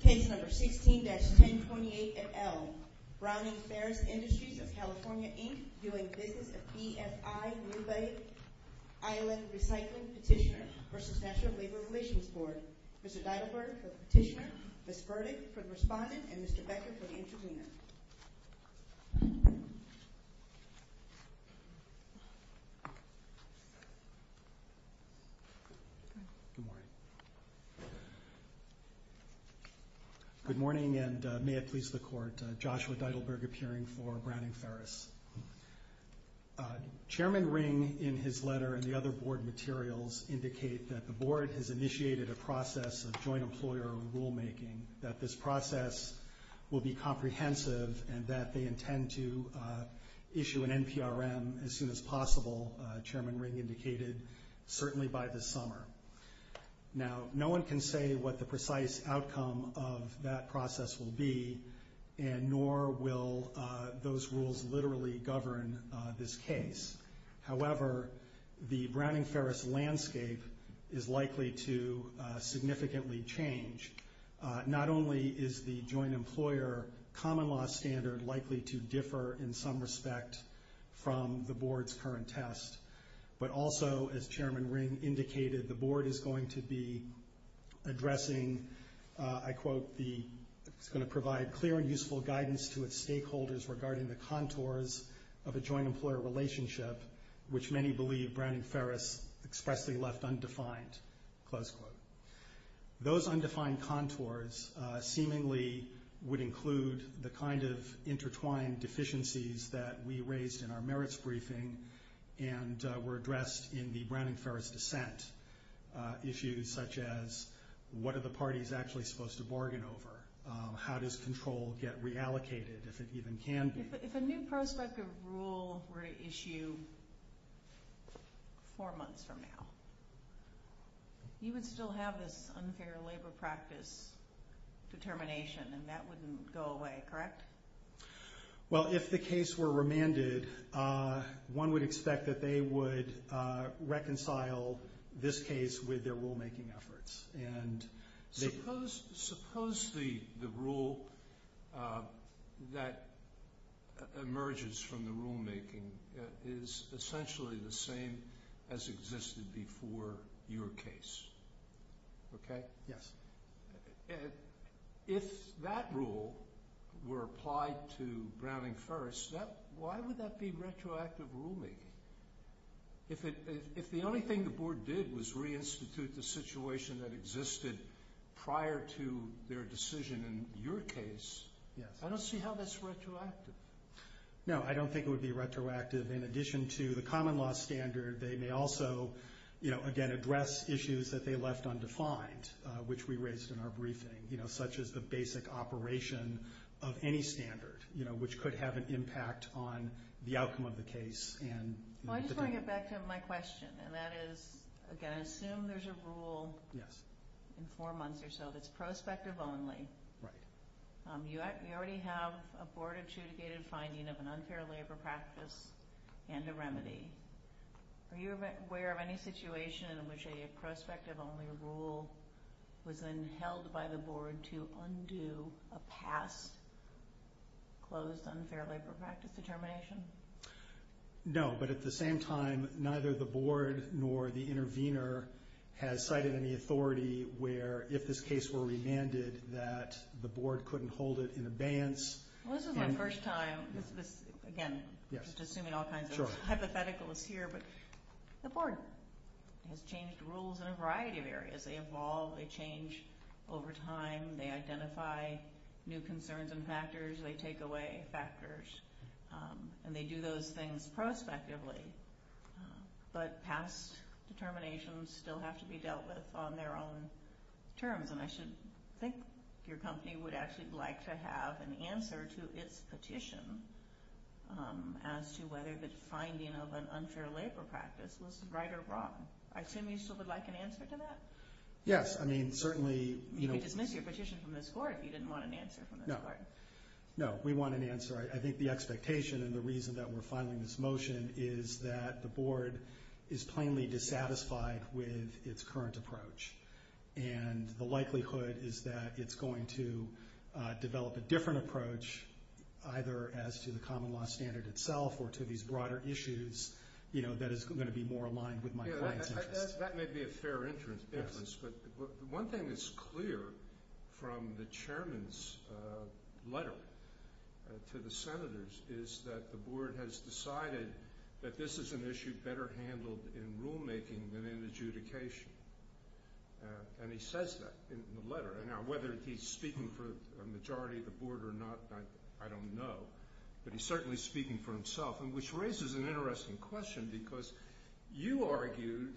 Case number 16-1028 at L. Browning-Ferris Industries of California, Inc. Doing business at BFI New Bay Island Recycling Petitioner vs. National Labor Relations Board. Mr. Deidelberg for the Petitioner, Ms. Burdick for the Respondent, and Mr. Becker for the Intervener. Good morning. Good morning, and may it please the Court, Joshua Deidelberg appearing for Browning-Ferris. Chairman Ring, in his letter and the other Board materials, indicate that the Board has initiated a process of joint employer rulemaking, that this process will be comprehensive, and that they intend to issue an NPRM as soon as possible, Chairman Ring indicated, certainly by this summer. Now, no one can say what the precise outcome of that process will be, and nor will those rules literally govern this case. However, the Browning-Ferris landscape is likely to significantly change. Not only is the joint employer common law standard likely to differ in some respect from the Board's current test, but also, as Chairman Ring indicated, the Board is going to be addressing, I quote, it's going to provide clear and useful guidance to its stakeholders regarding the contours of a joint employer relationship, which many believe Browning-Ferris expressly left undefined, close quote. Those undefined contours seemingly would include the kind of intertwined deficiencies that we raised in our merits briefing, and were addressed in the Browning-Ferris dissent. Issues such as, what are the parties actually supposed to bargain over? How does control get reallocated, if it even can be? If a new prospect of rule were to issue four months from now, you would still have this unfair labor practice determination, and that wouldn't go away, correct? Well, if the case were remanded, one would expect that they would reconcile this case with their rulemaking efforts. Suppose the rule that emerges from the rulemaking is essentially the same as existed before your case, okay? Yes. If that rule were applied to Browning-Ferris, why would that be retroactive ruling? If the only thing the board did was reinstitute the situation that existed prior to their decision in your case, I don't see how that's retroactive. No, I don't think it would be retroactive. In addition to the common law standard, they may also, again, address issues that they left undefined, which we raised in our briefing, such as the basic operation of any standard, which could have an impact on the outcome of the case. I just want to get back to my question, and that is, again, I assume there's a rule in four months or so that's prospective only. Right. You already have a board-adjudicated finding of an unfair labor practice and a remedy. Are you aware of any situation in which a prospective-only rule was then held by the board to undo a past closed unfair labor practice determination? No, but at the same time, neither the board nor the intervener has cited any authority where, if this case were remanded, that the board couldn't hold it in abeyance. Well, this is my first time. Again, just assuming all kinds of hypotheticals here, but the board has changed rules in a variety of areas. They evolve. They change over time. They identify new concerns and factors. They take away factors, and they do those things prospectively, but past determinations still have to be dealt with on their own terms, and I should think your company would actually like to have an answer to its petition as to whether the finding of an unfair labor practice was right or wrong. I assume you still would like an answer to that? Yes, I mean, certainly— You could dismiss your petition from this board if you didn't want an answer from this board. No, we want an answer. I think the expectation and the reason that we're filing this motion is that the board is plainly dissatisfied with its current approach, and the likelihood is that it's going to develop a different approach, either as to the common law standard itself or to these broader issues, you know, that is going to be more aligned with my client's interests. That may be a fair interest, but one thing that's clear from the chairman's letter to the senators is that the board has decided that this is an issue better handled in rulemaking than in adjudication, and he says that in the letter. Now, whether he's speaking for a majority of the board or not, I don't know, but he's certainly speaking for himself, which raises an interesting question because you argued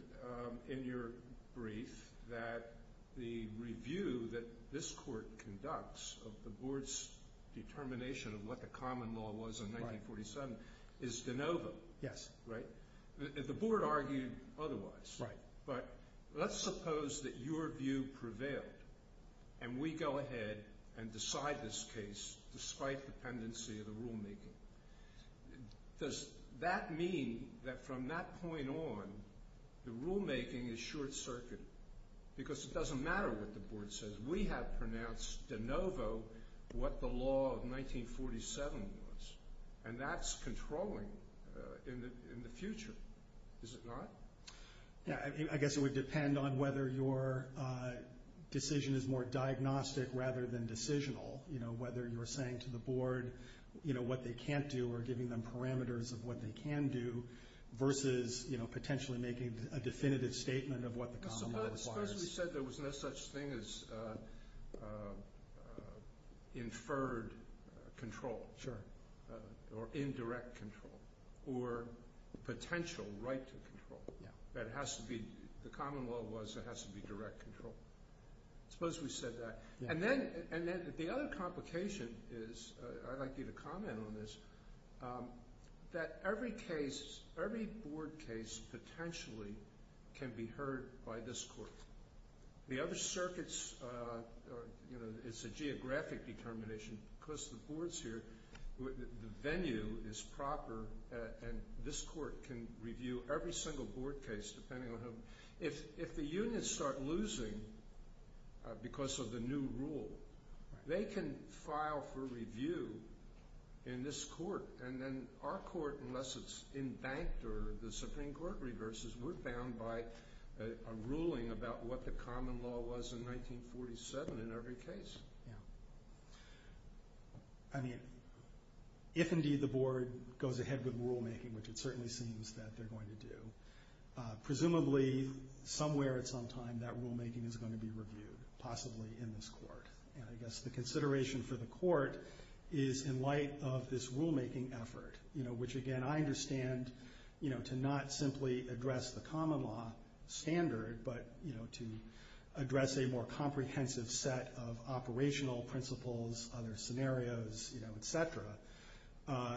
in your brief that the review that this court conducts of the board's determination of what the common law was in 1947 is de novo. Yes. Right? The board argued otherwise. Right. But let's suppose that your view prevailed, and we go ahead and decide this case despite dependency of the rulemaking. Does that mean that from that point on, the rulemaking is short-circuited? Because it doesn't matter what the board says. We have pronounced de novo what the law of 1947 was, and that's controlling in the future, is it not? I guess it would depend on whether your decision is more diagnostic rather than decisional, whether you're saying to the board what they can't do or giving them parameters of what they can do versus potentially making a definitive statement of what the common law requires. Suppose we said there was no such thing as inferred control or indirect control or potential right to control. The common law was it has to be direct control. Suppose we said that. And then the other complication is, I'd like you to comment on this, that every case, every board case potentially can be heard by this court. The other circuits, you know, it's a geographic determination because the board's here. The venue is proper, and this court can review every single board case depending on whom. If the units start losing because of the new rule, they can file for review in this court, and then our court, unless it's embanked or the Supreme Court reverses, we're bound by a ruling about what the common law was in 1947 in every case. I mean, if indeed the board goes ahead with rulemaking, which it certainly seems that they're going to do, presumably somewhere at some time that rulemaking is going to be reviewed, possibly in this court. And I guess the consideration for the court is in light of this rulemaking effort, which again I understand to not simply address the common law standard, but to address a more comprehensive set of operational principles, other scenarios, et cetera.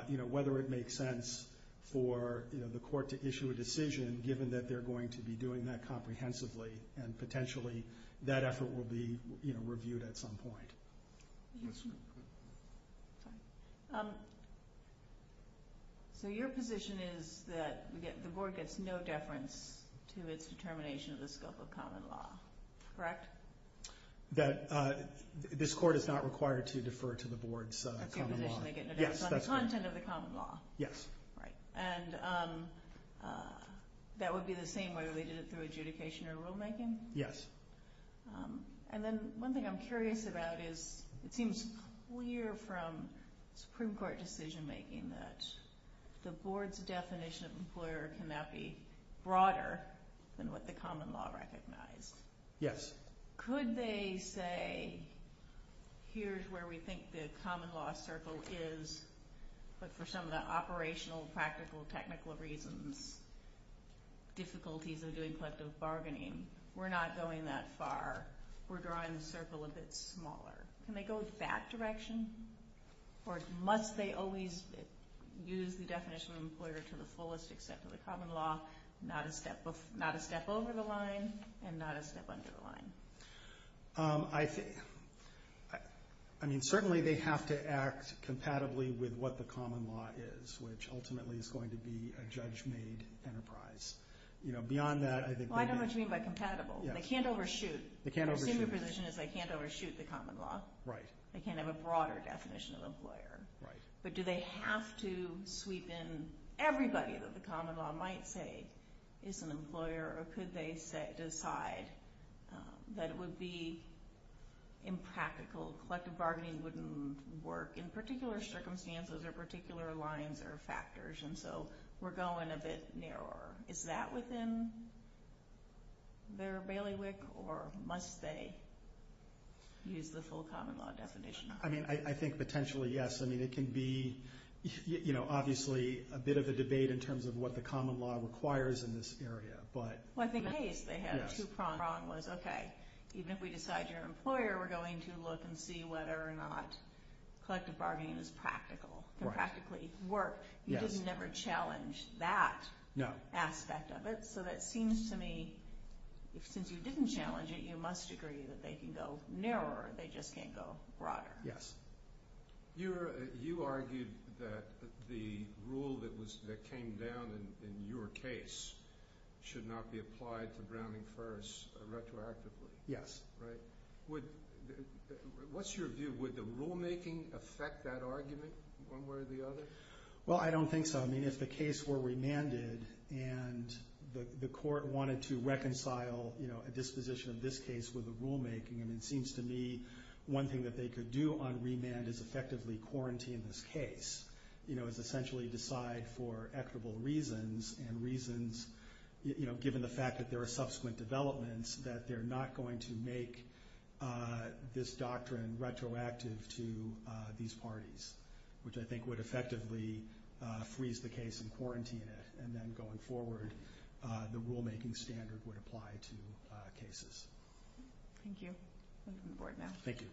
You know, whether it makes sense for the court to issue a decision, given that they're going to be doing that comprehensively, and potentially that effort will be reviewed at some point. So your position is that the board gets no deference to its determination of the scope of common law, correct? That this court is not required to defer to the board's common law. That's your position, they get no deference on the content of the common law? Yes. Right. And that would be the same whether they did it through adjudication or rulemaking? Yes. And then one thing I'm curious about is, it seems clear from Supreme Court decision making that the board's definition of employer cannot be broader than what the common law recognized. Yes. Could they say, here's where we think the common law circle is, but for some of the operational, practical, technical reasons, difficulties of doing collective bargaining, we're not going that far, we're drawing the circle a bit smaller. Can they go that direction? Or must they always use the definition of employer to the fullest extent of the common law, not a step over the line, and not a step under the line? I mean, certainly they have to act compatibly with what the common law is, which ultimately is going to be a judge-made enterprise. Beyond that, I think they can... Well, I know what you mean by compatible. They can't overshoot. Their senior position is they can't overshoot the common law. Right. They can't have a broader definition of employer. Right. But do they have to sweep in everybody that the common law might say is an employer, or could they decide that it would be impractical? Collective bargaining wouldn't work in particular circumstances or particular lines or factors, and so we're going a bit narrower. Is that within their bailiwick, or must they use the full common law definition? I think potentially, yes. I mean, it can be, you know, obviously a bit of a debate in terms of what the common law requires in this area. Well, I think Hayes, they had a two-pronged, was, okay, even if we decide you're an employer, we're going to look and see whether or not collective bargaining is practical, can practically work. You didn't ever challenge that aspect of it. So that seems to me, since you didn't challenge it, you must agree that they can go narrower, they just can't go broader. You argued that the rule that came down in your case should not be applied to Browning First retroactively. Yes. What's your view? Would the rulemaking affect that argument one way or the other? Well, I don't think so. I mean, if the case were remanded and the court wanted to reconcile a disposition of this case with the rulemaking, I mean, it seems to me one thing that they could do on remand is effectively quarantine this case, you know, is essentially decide for equitable reasons, and reasons, you know, given the fact that there are subsequent developments, that they're not going to make this doctrine retroactive to these parties, which I think would effectively freeze the case and quarantine it, and then going forward, the rulemaking standard would apply to cases. Thank you. Over to the Board now. Thank you.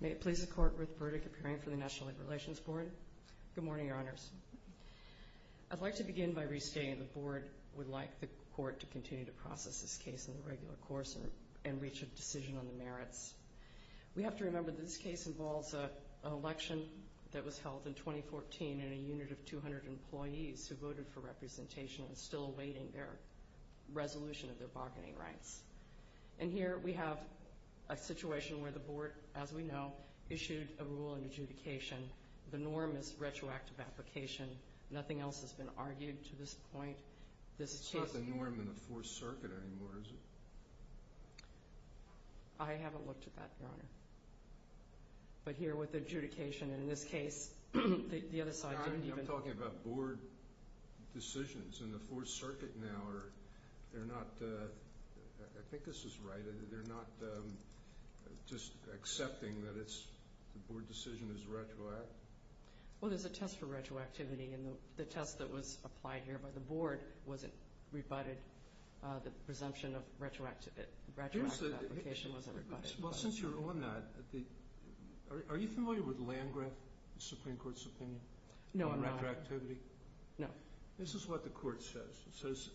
May it please the Court, Ruth Burdick appearing for the National Labor Relations Board. Good morning, Your Honors. I'd like to begin by restating the Board would like the Court to continue to process this case in the regular course and reach a decision on the merits. We have to remember that this case involves an election that was held in 2014 in a unit of 200 employees who voted for representation and are still awaiting their resolution of their bargaining rights. And here we have a situation where the Board, as we know, issued a rule in adjudication. The norm is retroactive application. Nothing else has been argued to this point. It's not the norm in the Fourth Circuit anymore, is it? I haven't looked at that, Your Honor. But here with adjudication in this case, the other side didn't even. I'm talking about Board decisions in the Fourth Circuit now. They're not, I think this is right, they're not just accepting that the Board decision is retroactive? Well, there's a test for retroactivity, and the test that was applied here by the Board wasn't rebutted, the presumption of retroactive application wasn't rebutted. Well, since you're on that, are you familiar with the land-grant Supreme Court's opinion on retroactivity? No. This is what the Court says.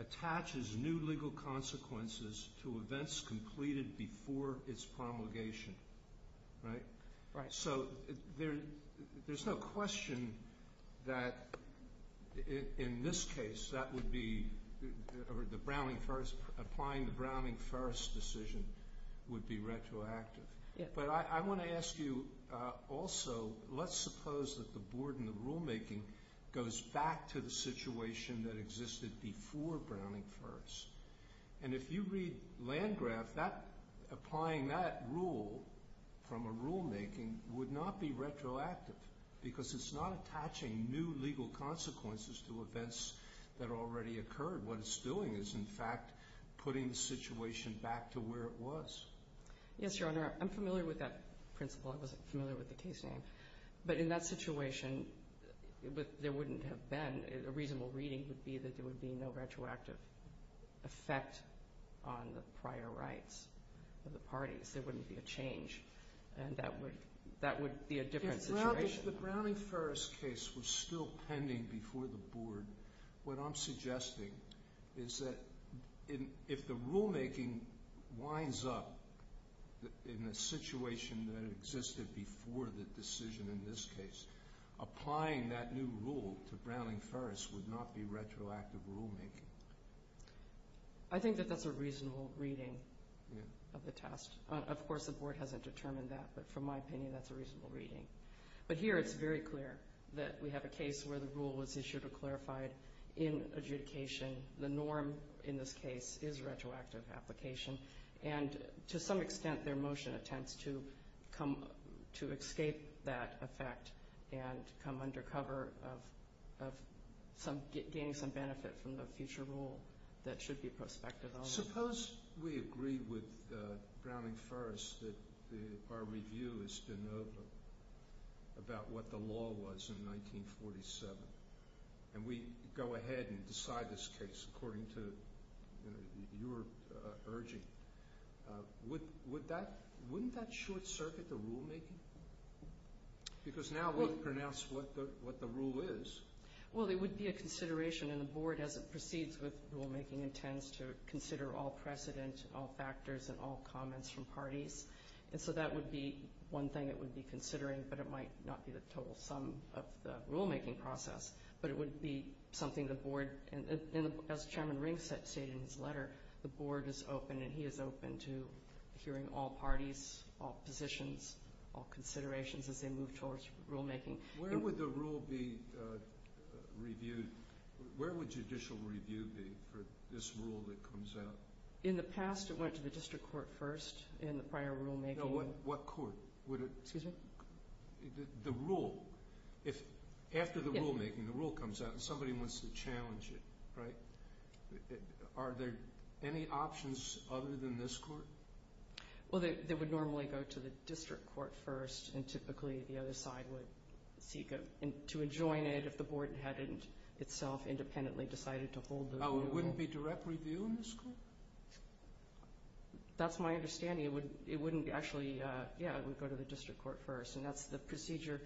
It attaches new legal consequences to events completed before its promulgation. Right? Right. So there's no question that in this case, that would be the Browning-Ferris, applying the Browning-Ferris decision would be retroactive. But I want to ask you also, let's suppose that the Board in the rulemaking goes back to the situation that existed before Browning-Ferris. And if you read Landgraf, applying that rule from a rulemaking would not be retroactive, because it's not attaching new legal consequences to events that already occurred. What it's doing is, in fact, putting the situation back to where it was. Yes, Your Honor. I'm familiar with that principle. I wasn't familiar with the case name. But in that situation, there wouldn't have been. A reasonable reading would be that there would be no retroactive effect on the prior rights of the parties. There wouldn't be a change. And that would be a different situation. If the Browning-Ferris case was still pending before the Board, what I'm suggesting is that if the rulemaking winds up in a situation that existed before the decision in this case, applying that new rule to Browning-Ferris would not be retroactive rulemaking. I think that that's a reasonable reading of the test. Of course, the Board hasn't determined that. But from my opinion, that's a reasonable reading. But here, it's very clear that we have a case where the rule was issued or clarified in adjudication. The norm in this case is retroactive application. To some extent, their motion attempts to escape that effect and come under cover of gaining some benefit from the future rule that should be prospective. Suppose we agree with Browning-Ferris that our review is de novo about what the law was in 1947. And we go ahead and decide this case according to your urging. Wouldn't that short-circuit the rulemaking? Because now we've pronounced what the rule is. Well, it would be a consideration, and the Board, as it proceeds with rulemaking, intends to consider all precedent, all factors, and all comments from parties. And so that would be one thing it would be considering, but it might not be the total sum of the rulemaking process. But it would be something the Board, as Chairman Ring stated in his letter, the Board is open, and he is open to hearing all parties, all positions, all considerations as they move towards rulemaking. Where would the rule be reviewed? Where would judicial review be for this rule that comes out? In the past, it went to the district court first in the prior rulemaking. No, what court? Excuse me? The rule. After the rulemaking, the rule comes out, and somebody wants to challenge it, right? Are there any options other than this court? Well, they would normally go to the district court first, and typically the other side would seek to adjoin it if the Board hadn't itself independently decided to hold the rule. Oh, it wouldn't be direct review in this court? That's my understanding. It wouldn't actually go to the district court first, and that's the procedure.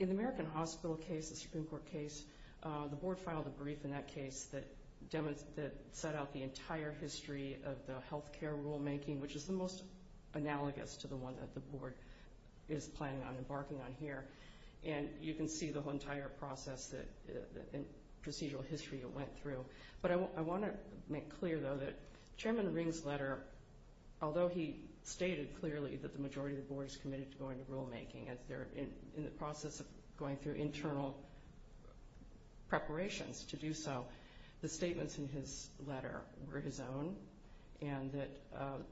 In the American Hospital case, the Supreme Court case, the Board filed a brief in that case that set out the entire history of the health care rulemaking, which is the most analogous to the one that the Board is planning on embarking on here, and you can see the entire process and procedural history it went through. But I want to make clear, though, that Chairman Ring's letter, although he stated clearly that the majority of the Board is committed to going to rulemaking, and they're in the process of going through internal preparations to do so, the statements in his letter were his own,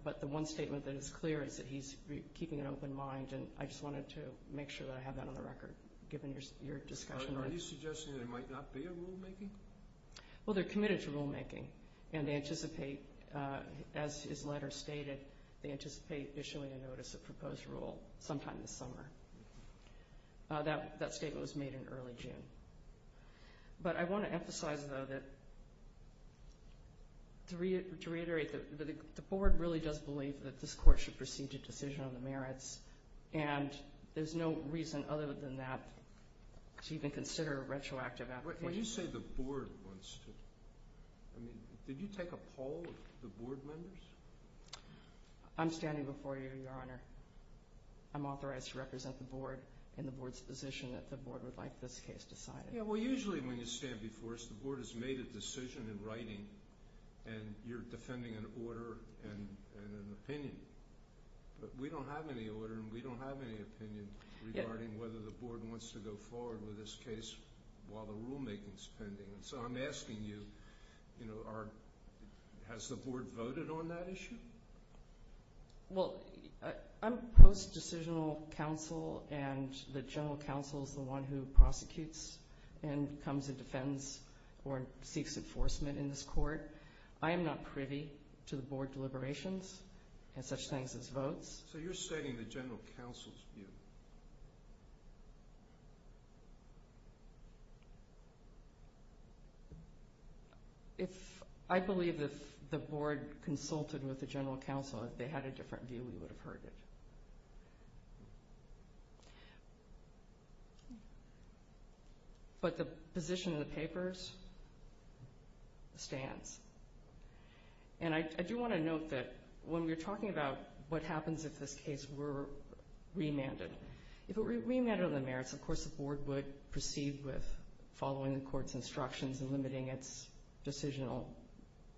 but the one statement that is clear is that he's keeping an open mind, and I just wanted to make sure that I have that on the record, given your discussion. Are you suggesting there might not be a rulemaking? Well, they're committed to rulemaking, and they anticipate, as his letter stated, they anticipate issuing a notice of proposed rule sometime this summer. That statement was made in early June. But I want to emphasize, though, that to reiterate, the Board really does believe that this court should proceed to decision on the merits, and there's no reason other than that to even consider a retroactive application. When you say the Board wants to, did you take a poll of the Board members? I'm standing before you, Your Honor. I'm authorized to represent the Board in the Board's position that the Board would like this case decided. Yeah, well, usually when you stand before us, the Board has made a decision in writing, and you're defending an order and an opinion. But we don't have any order, and we don't have any opinion regarding whether the Board wants to go forward with this case while the rulemaking is pending. And so I'm asking you, you know, has the Board voted on that issue? Well, I'm post-decisional counsel, and the general counsel is the one who prosecutes and comes and defends or seeks enforcement in this court. I am not privy to the Board deliberations and such things as votes. So you're stating the general counsel's view. I believe if the Board consulted with the general counsel, if they had a different view, we would have heard it. But the position of the papers stands. And I do want to note that when we're talking about what happens if this case were remanded, if it were remanded on the merits, of course, the Board would proceed with following the court's instructions and limiting its decisional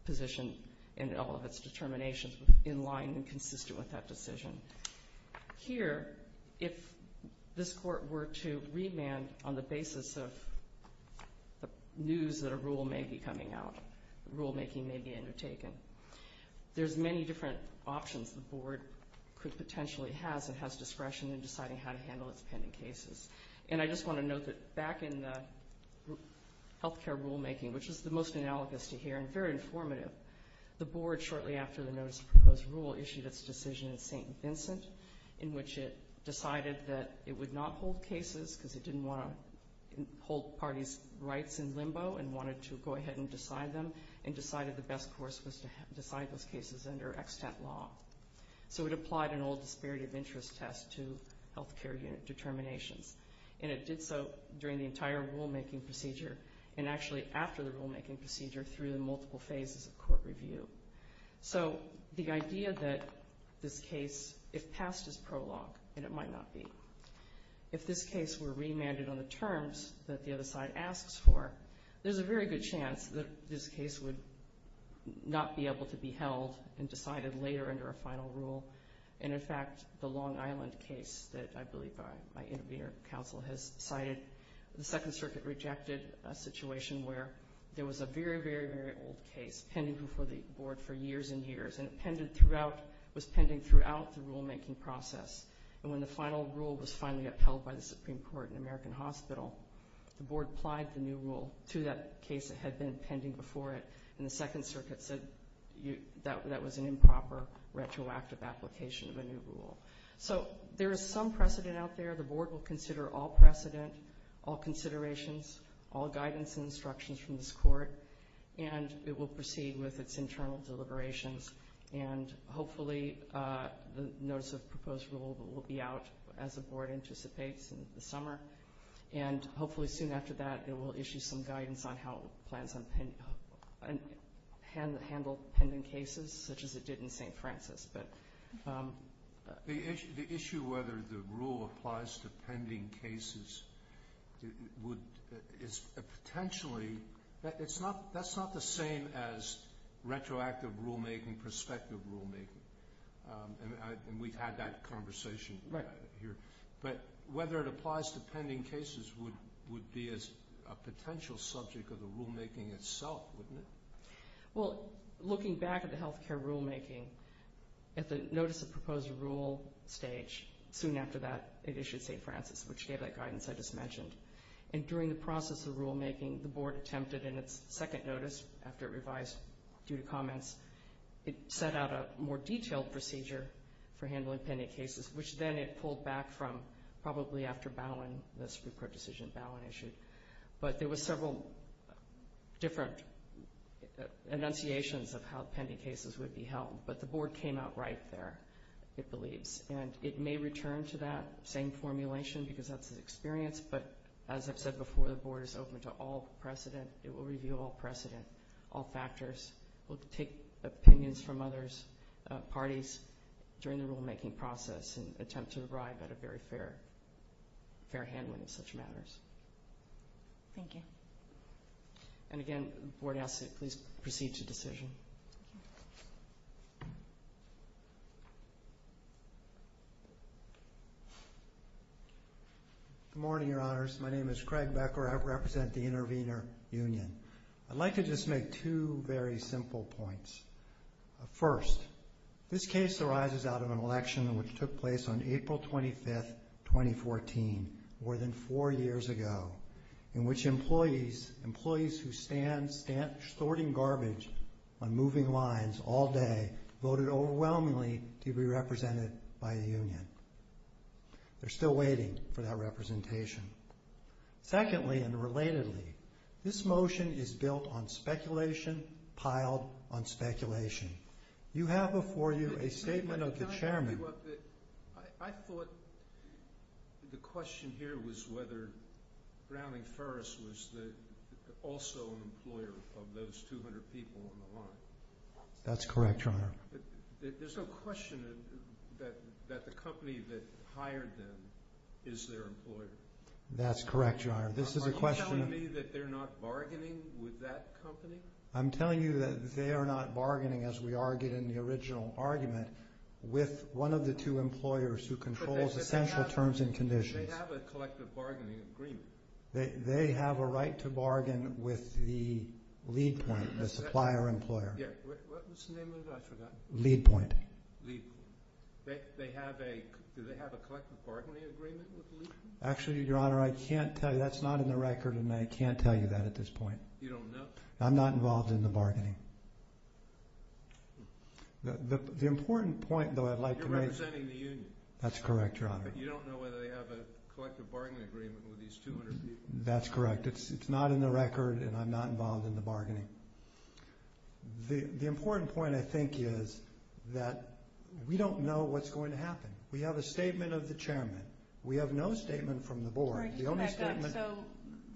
position and all of its determinations in line and consistent with that decision. Here, if this court were to remand on the basis of news that a rule may be coming out, rulemaking may be undertaken, there's many different options the Board could potentially have that has discretion in deciding how to handle its pending cases. And I just want to note that back in the health care rulemaking, which is the most analogous to here and very informative, the Board, shortly after the notice of proposed rule, issued its decision in St. Vincent, in which it decided that it would not hold cases because it didn't want to hold parties' rights in limbo and wanted to go ahead and decide them and decided the best course was to decide those cases under extant law. So it applied an old disparity of interest test to health care unit determinations. And it did so during the entire rulemaking procedure and actually after the rulemaking procedure through the multiple phases of court review. So the idea that this case, if passed, is prologue, and it might not be, if this case were remanded on the terms that the other side asks for, there's a very good chance that this case would not be able to be held and decided later under a final rule. And, in fact, the Long Island case that I believe my intervener, Counsel, has cited, the Second Circuit rejected a situation where there was a very, very, very old case pending before the Board for years and years. And it was pending throughout the rulemaking process. And when the final rule was finally upheld by the Supreme Court in American Hospital, the Board applied the new rule to that case that had been pending before it, and the Second Circuit said that was an improper, retroactive application of a new rule. So there is some precedent out there. The Board will consider all precedent, all considerations, all guidance and instructions from this Court, and it will proceed with its internal deliberations. And, hopefully, the notice of proposed rule will be out as the Board anticipates in the summer. And, hopefully, soon after that, it will issue some guidance on how it plans to handle pending cases, such as it did in St. Francis. The issue whether the rule applies to pending cases is potentially... That's not the same as retroactive rulemaking, prospective rulemaking. And we've had that conversation here. But whether it applies to pending cases would be a potential subject of the rulemaking itself, wouldn't it? Well, looking back at the health care rulemaking, at the notice of proposed rule stage, soon after that, it issued St. Francis, which gave that guidance I just mentioned. And during the process of rulemaking, the Board attempted in its second notice, after it revised due to comments, it set out a more detailed procedure for handling pending cases, which then it pulled back from probably after Bowen, the Supreme Court decision Bowen issued. But there were several different enunciations of how pending cases would be held. But the Board came out right there, it believes. And it may return to that same formulation because that's the experience. But, as I've said before, the Board is open to all precedent. It will review all precedent, all factors. It will take opinions from other parties during the rulemaking process and attempt to arrive at a very fair handling of such matters. Thank you. And again, the Board asks that you please proceed to decision. Good morning, Your Honors. My name is Craig Becker. I represent the Intervenor Union. I'd like to just make two very simple points. First, this case arises out of an election which took place on April 25, 2014, more than four years ago, in which employees who stand sorting garbage on moving lines all day voted overwhelmingly to be represented by the union. They're still waiting for that representation. Secondly, and relatedly, this motion is built on speculation, piled on speculation. You have before you a statement of the chairman. I thought the question here was whether Browning-Ferris was also an employer of those 200 people on the line. That's correct, Your Honor. There's no question that the company that hired them is their employer. That's correct, Your Honor. Are you telling me that they're not bargaining with that company? I'm telling you that they are not bargaining, as we argued in the original argument, with one of the two employers who controls essential terms and conditions. They have a collective bargaining agreement. They have a right to bargain with the lead point, the supplier-employer. What's the name of that? I forgot. Lead point. Lead point. Do they have a collective bargaining agreement with the lead point? Actually, Your Honor, I can't tell you. That's not in the record, and I can't tell you that at this point. You don't know? I'm not involved in the bargaining. The important point, though, I'd like to make- You're representing the union. That's correct, Your Honor. You don't know whether they have a collective bargaining agreement with these 200 people? That's correct. It's not in the record, and I'm not involved in the bargaining. The important point, I think, is that we don't know what's going to happen. We have a statement of the chairman. We have no statement from the board. The only statement- So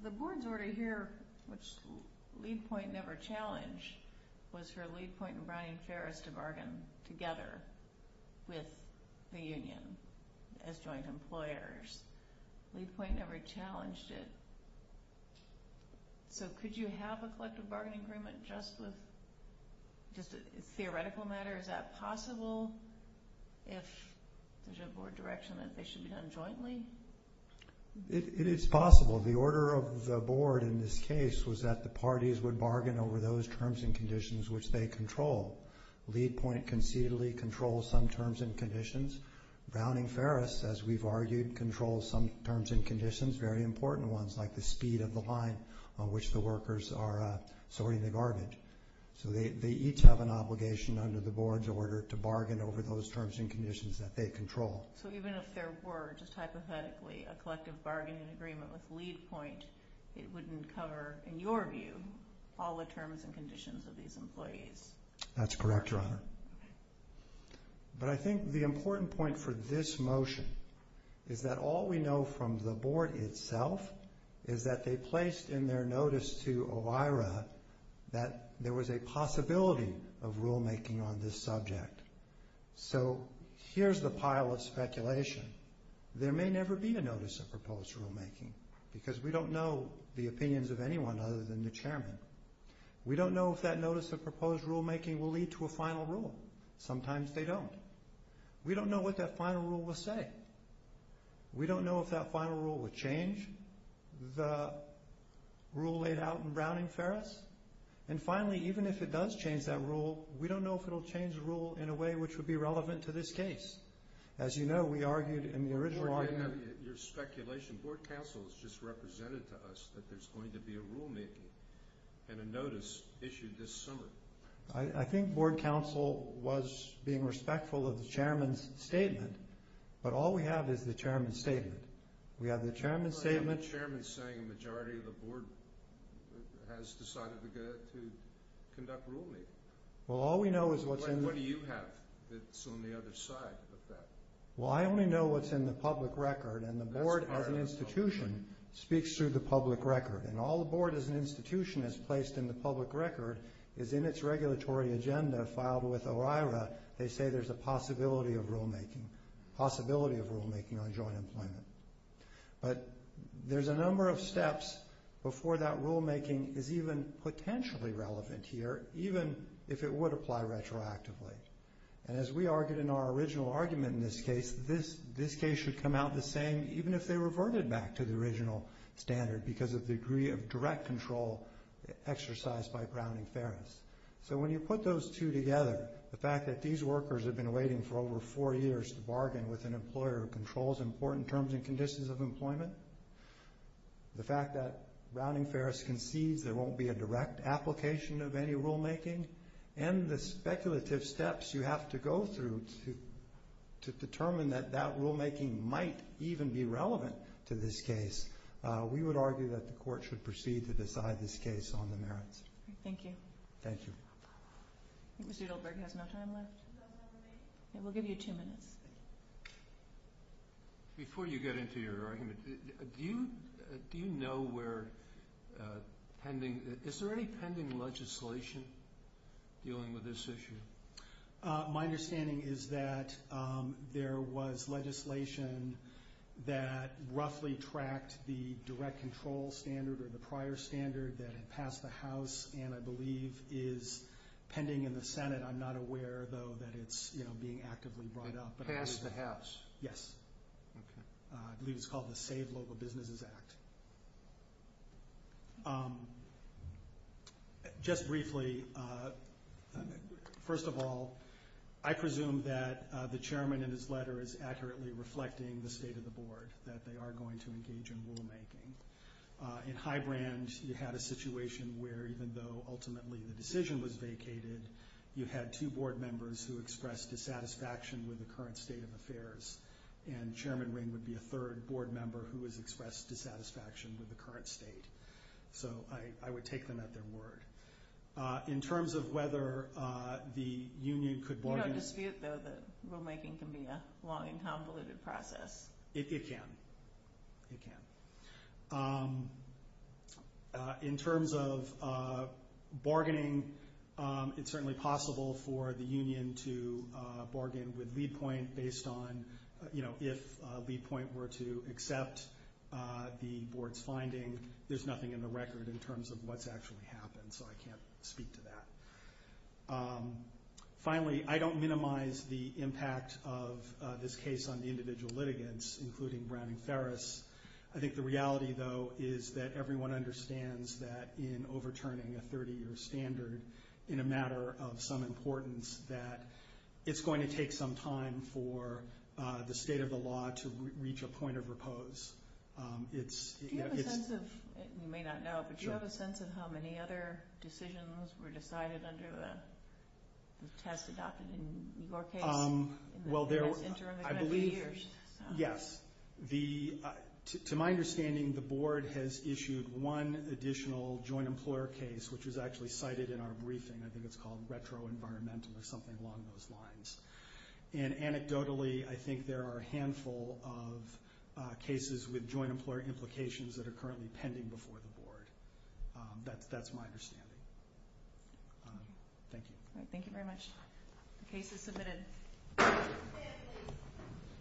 the board's order here, which lead point never challenged, was for lead point and Brian Ferris to bargain together with the union as joint employers. Lead point never challenged it. So could you have a collective bargaining agreement just with theoretical matters? Is that possible if there's a board direction that they should be done jointly? It is possible. The order of the board in this case was that the parties would bargain over those terms and conditions which they control. Lead point concededly controls some terms and conditions. Browning Ferris, as we've argued, controls some terms and conditions, very important ones like the speed of the line on which the workers are sorting the garbage. So they each have an obligation under the board's order to bargain over those terms and conditions that they control. So even if there were just hypothetically a collective bargaining agreement with lead point, it wouldn't cover, in your view, all the terms and conditions of these employees? That's correct, Your Honor. But I think the important point for this motion is that all we know from the board itself is that they placed in their notice to OIRA that there was a possibility of rulemaking on this subject. So here's the pile of speculation. There may never be a notice of proposed rulemaking because we don't know the opinions of anyone other than the chairman. We don't know if that notice of proposed rulemaking will lead to a final rule. Sometimes they don't. We don't know what that final rule will say. We don't know if that final rule will change the rule laid out in Browning Ferris. And finally, even if it does change that rule, we don't know if it will change the rule in a way which would be relevant to this case. As you know, we argued in the original argument… Your speculation, board counsel has just represented to us that there's going to be a rulemaking and a notice issued this summer. I think board counsel was being respectful of the chairman's statement, but all we have is the chairman's statement. We have the chairman's statement… But I have the chairman saying a majority of the board has decided to conduct rulemaking. Well, all we know is what's in the… What do you have that's on the other side of that? Well, I only know what's in the public record, and the board as an institution speaks through the public record. And all the board as an institution has placed in the public record is in its regulatory agenda filed with OIRA. They say there's a possibility of rulemaking on joint employment. But there's a number of steps before that rulemaking is even potentially relevant here, even if it would apply retroactively. And as we argued in our original argument in this case, this case should come out the same even if they reverted back to the original standard because of the degree of direct control exercised by Browning-Ferris. So when you put those two together, the fact that these workers have been waiting for over four years to bargain with an employer who controls important terms and conditions of employment, the fact that Browning-Ferris concedes there won't be a direct application of any rulemaking, and the speculative steps you have to go through to determine that that rulemaking might even be relevant to this case, we would argue that the court should proceed to decide this case on the merits. Thank you. Thank you. I think Mr. Doldberg has no time left. We'll give you two minutes. Before you get into your argument, do you know where pending – is there any pending legislation dealing with this issue? My understanding is that there was legislation that roughly tracked the direct control standard or the prior standard that had passed the House and I believe is pending in the Senate. I'm not aware, though, that it's being actively brought up. It passed the House? Yes. I believe it's called the Save Local Businesses Act. Just briefly, first of all, I presume that the chairman in his letter is accurately reflecting the state of the board, that they are going to engage in rulemaking. In Highbrand, you had a situation where even though ultimately the decision was vacated, you had two board members who expressed dissatisfaction with the current state of affairs and Chairman Ring would be a third board member who has expressed dissatisfaction with the current state. So I would take them at their word. In terms of whether the union could – No dispute, though, that rulemaking can be a long and convoluted process. It can. It can. In terms of bargaining, it's certainly possible for the union to bargain with Leadpoint based on if Leadpoint were to accept the board's finding, there's nothing in the record in terms of what's actually happened, so I can't speak to that. Finally, I don't minimize the impact of this case on the individual litigants, including Browning Ferris. I think the reality, though, is that everyone understands that in overturning a 30-year standard, in a matter of some importance, that it's going to take some time for the state of the law to reach a point of repose. Do you have a sense of – you may not know, but do you have a sense of how many other decisions were decided under the test adopted in your case? Well, I believe – Yes. To my understanding, the board has issued one additional joint employer case, which was actually cited in our briefing. I think it's called retroenvironmentum or something along those lines. And anecdotally, I think there are a handful of cases with joint employer implications that are currently pending before the board. That's my understanding. Thank you. Thank you very much. The case is submitted.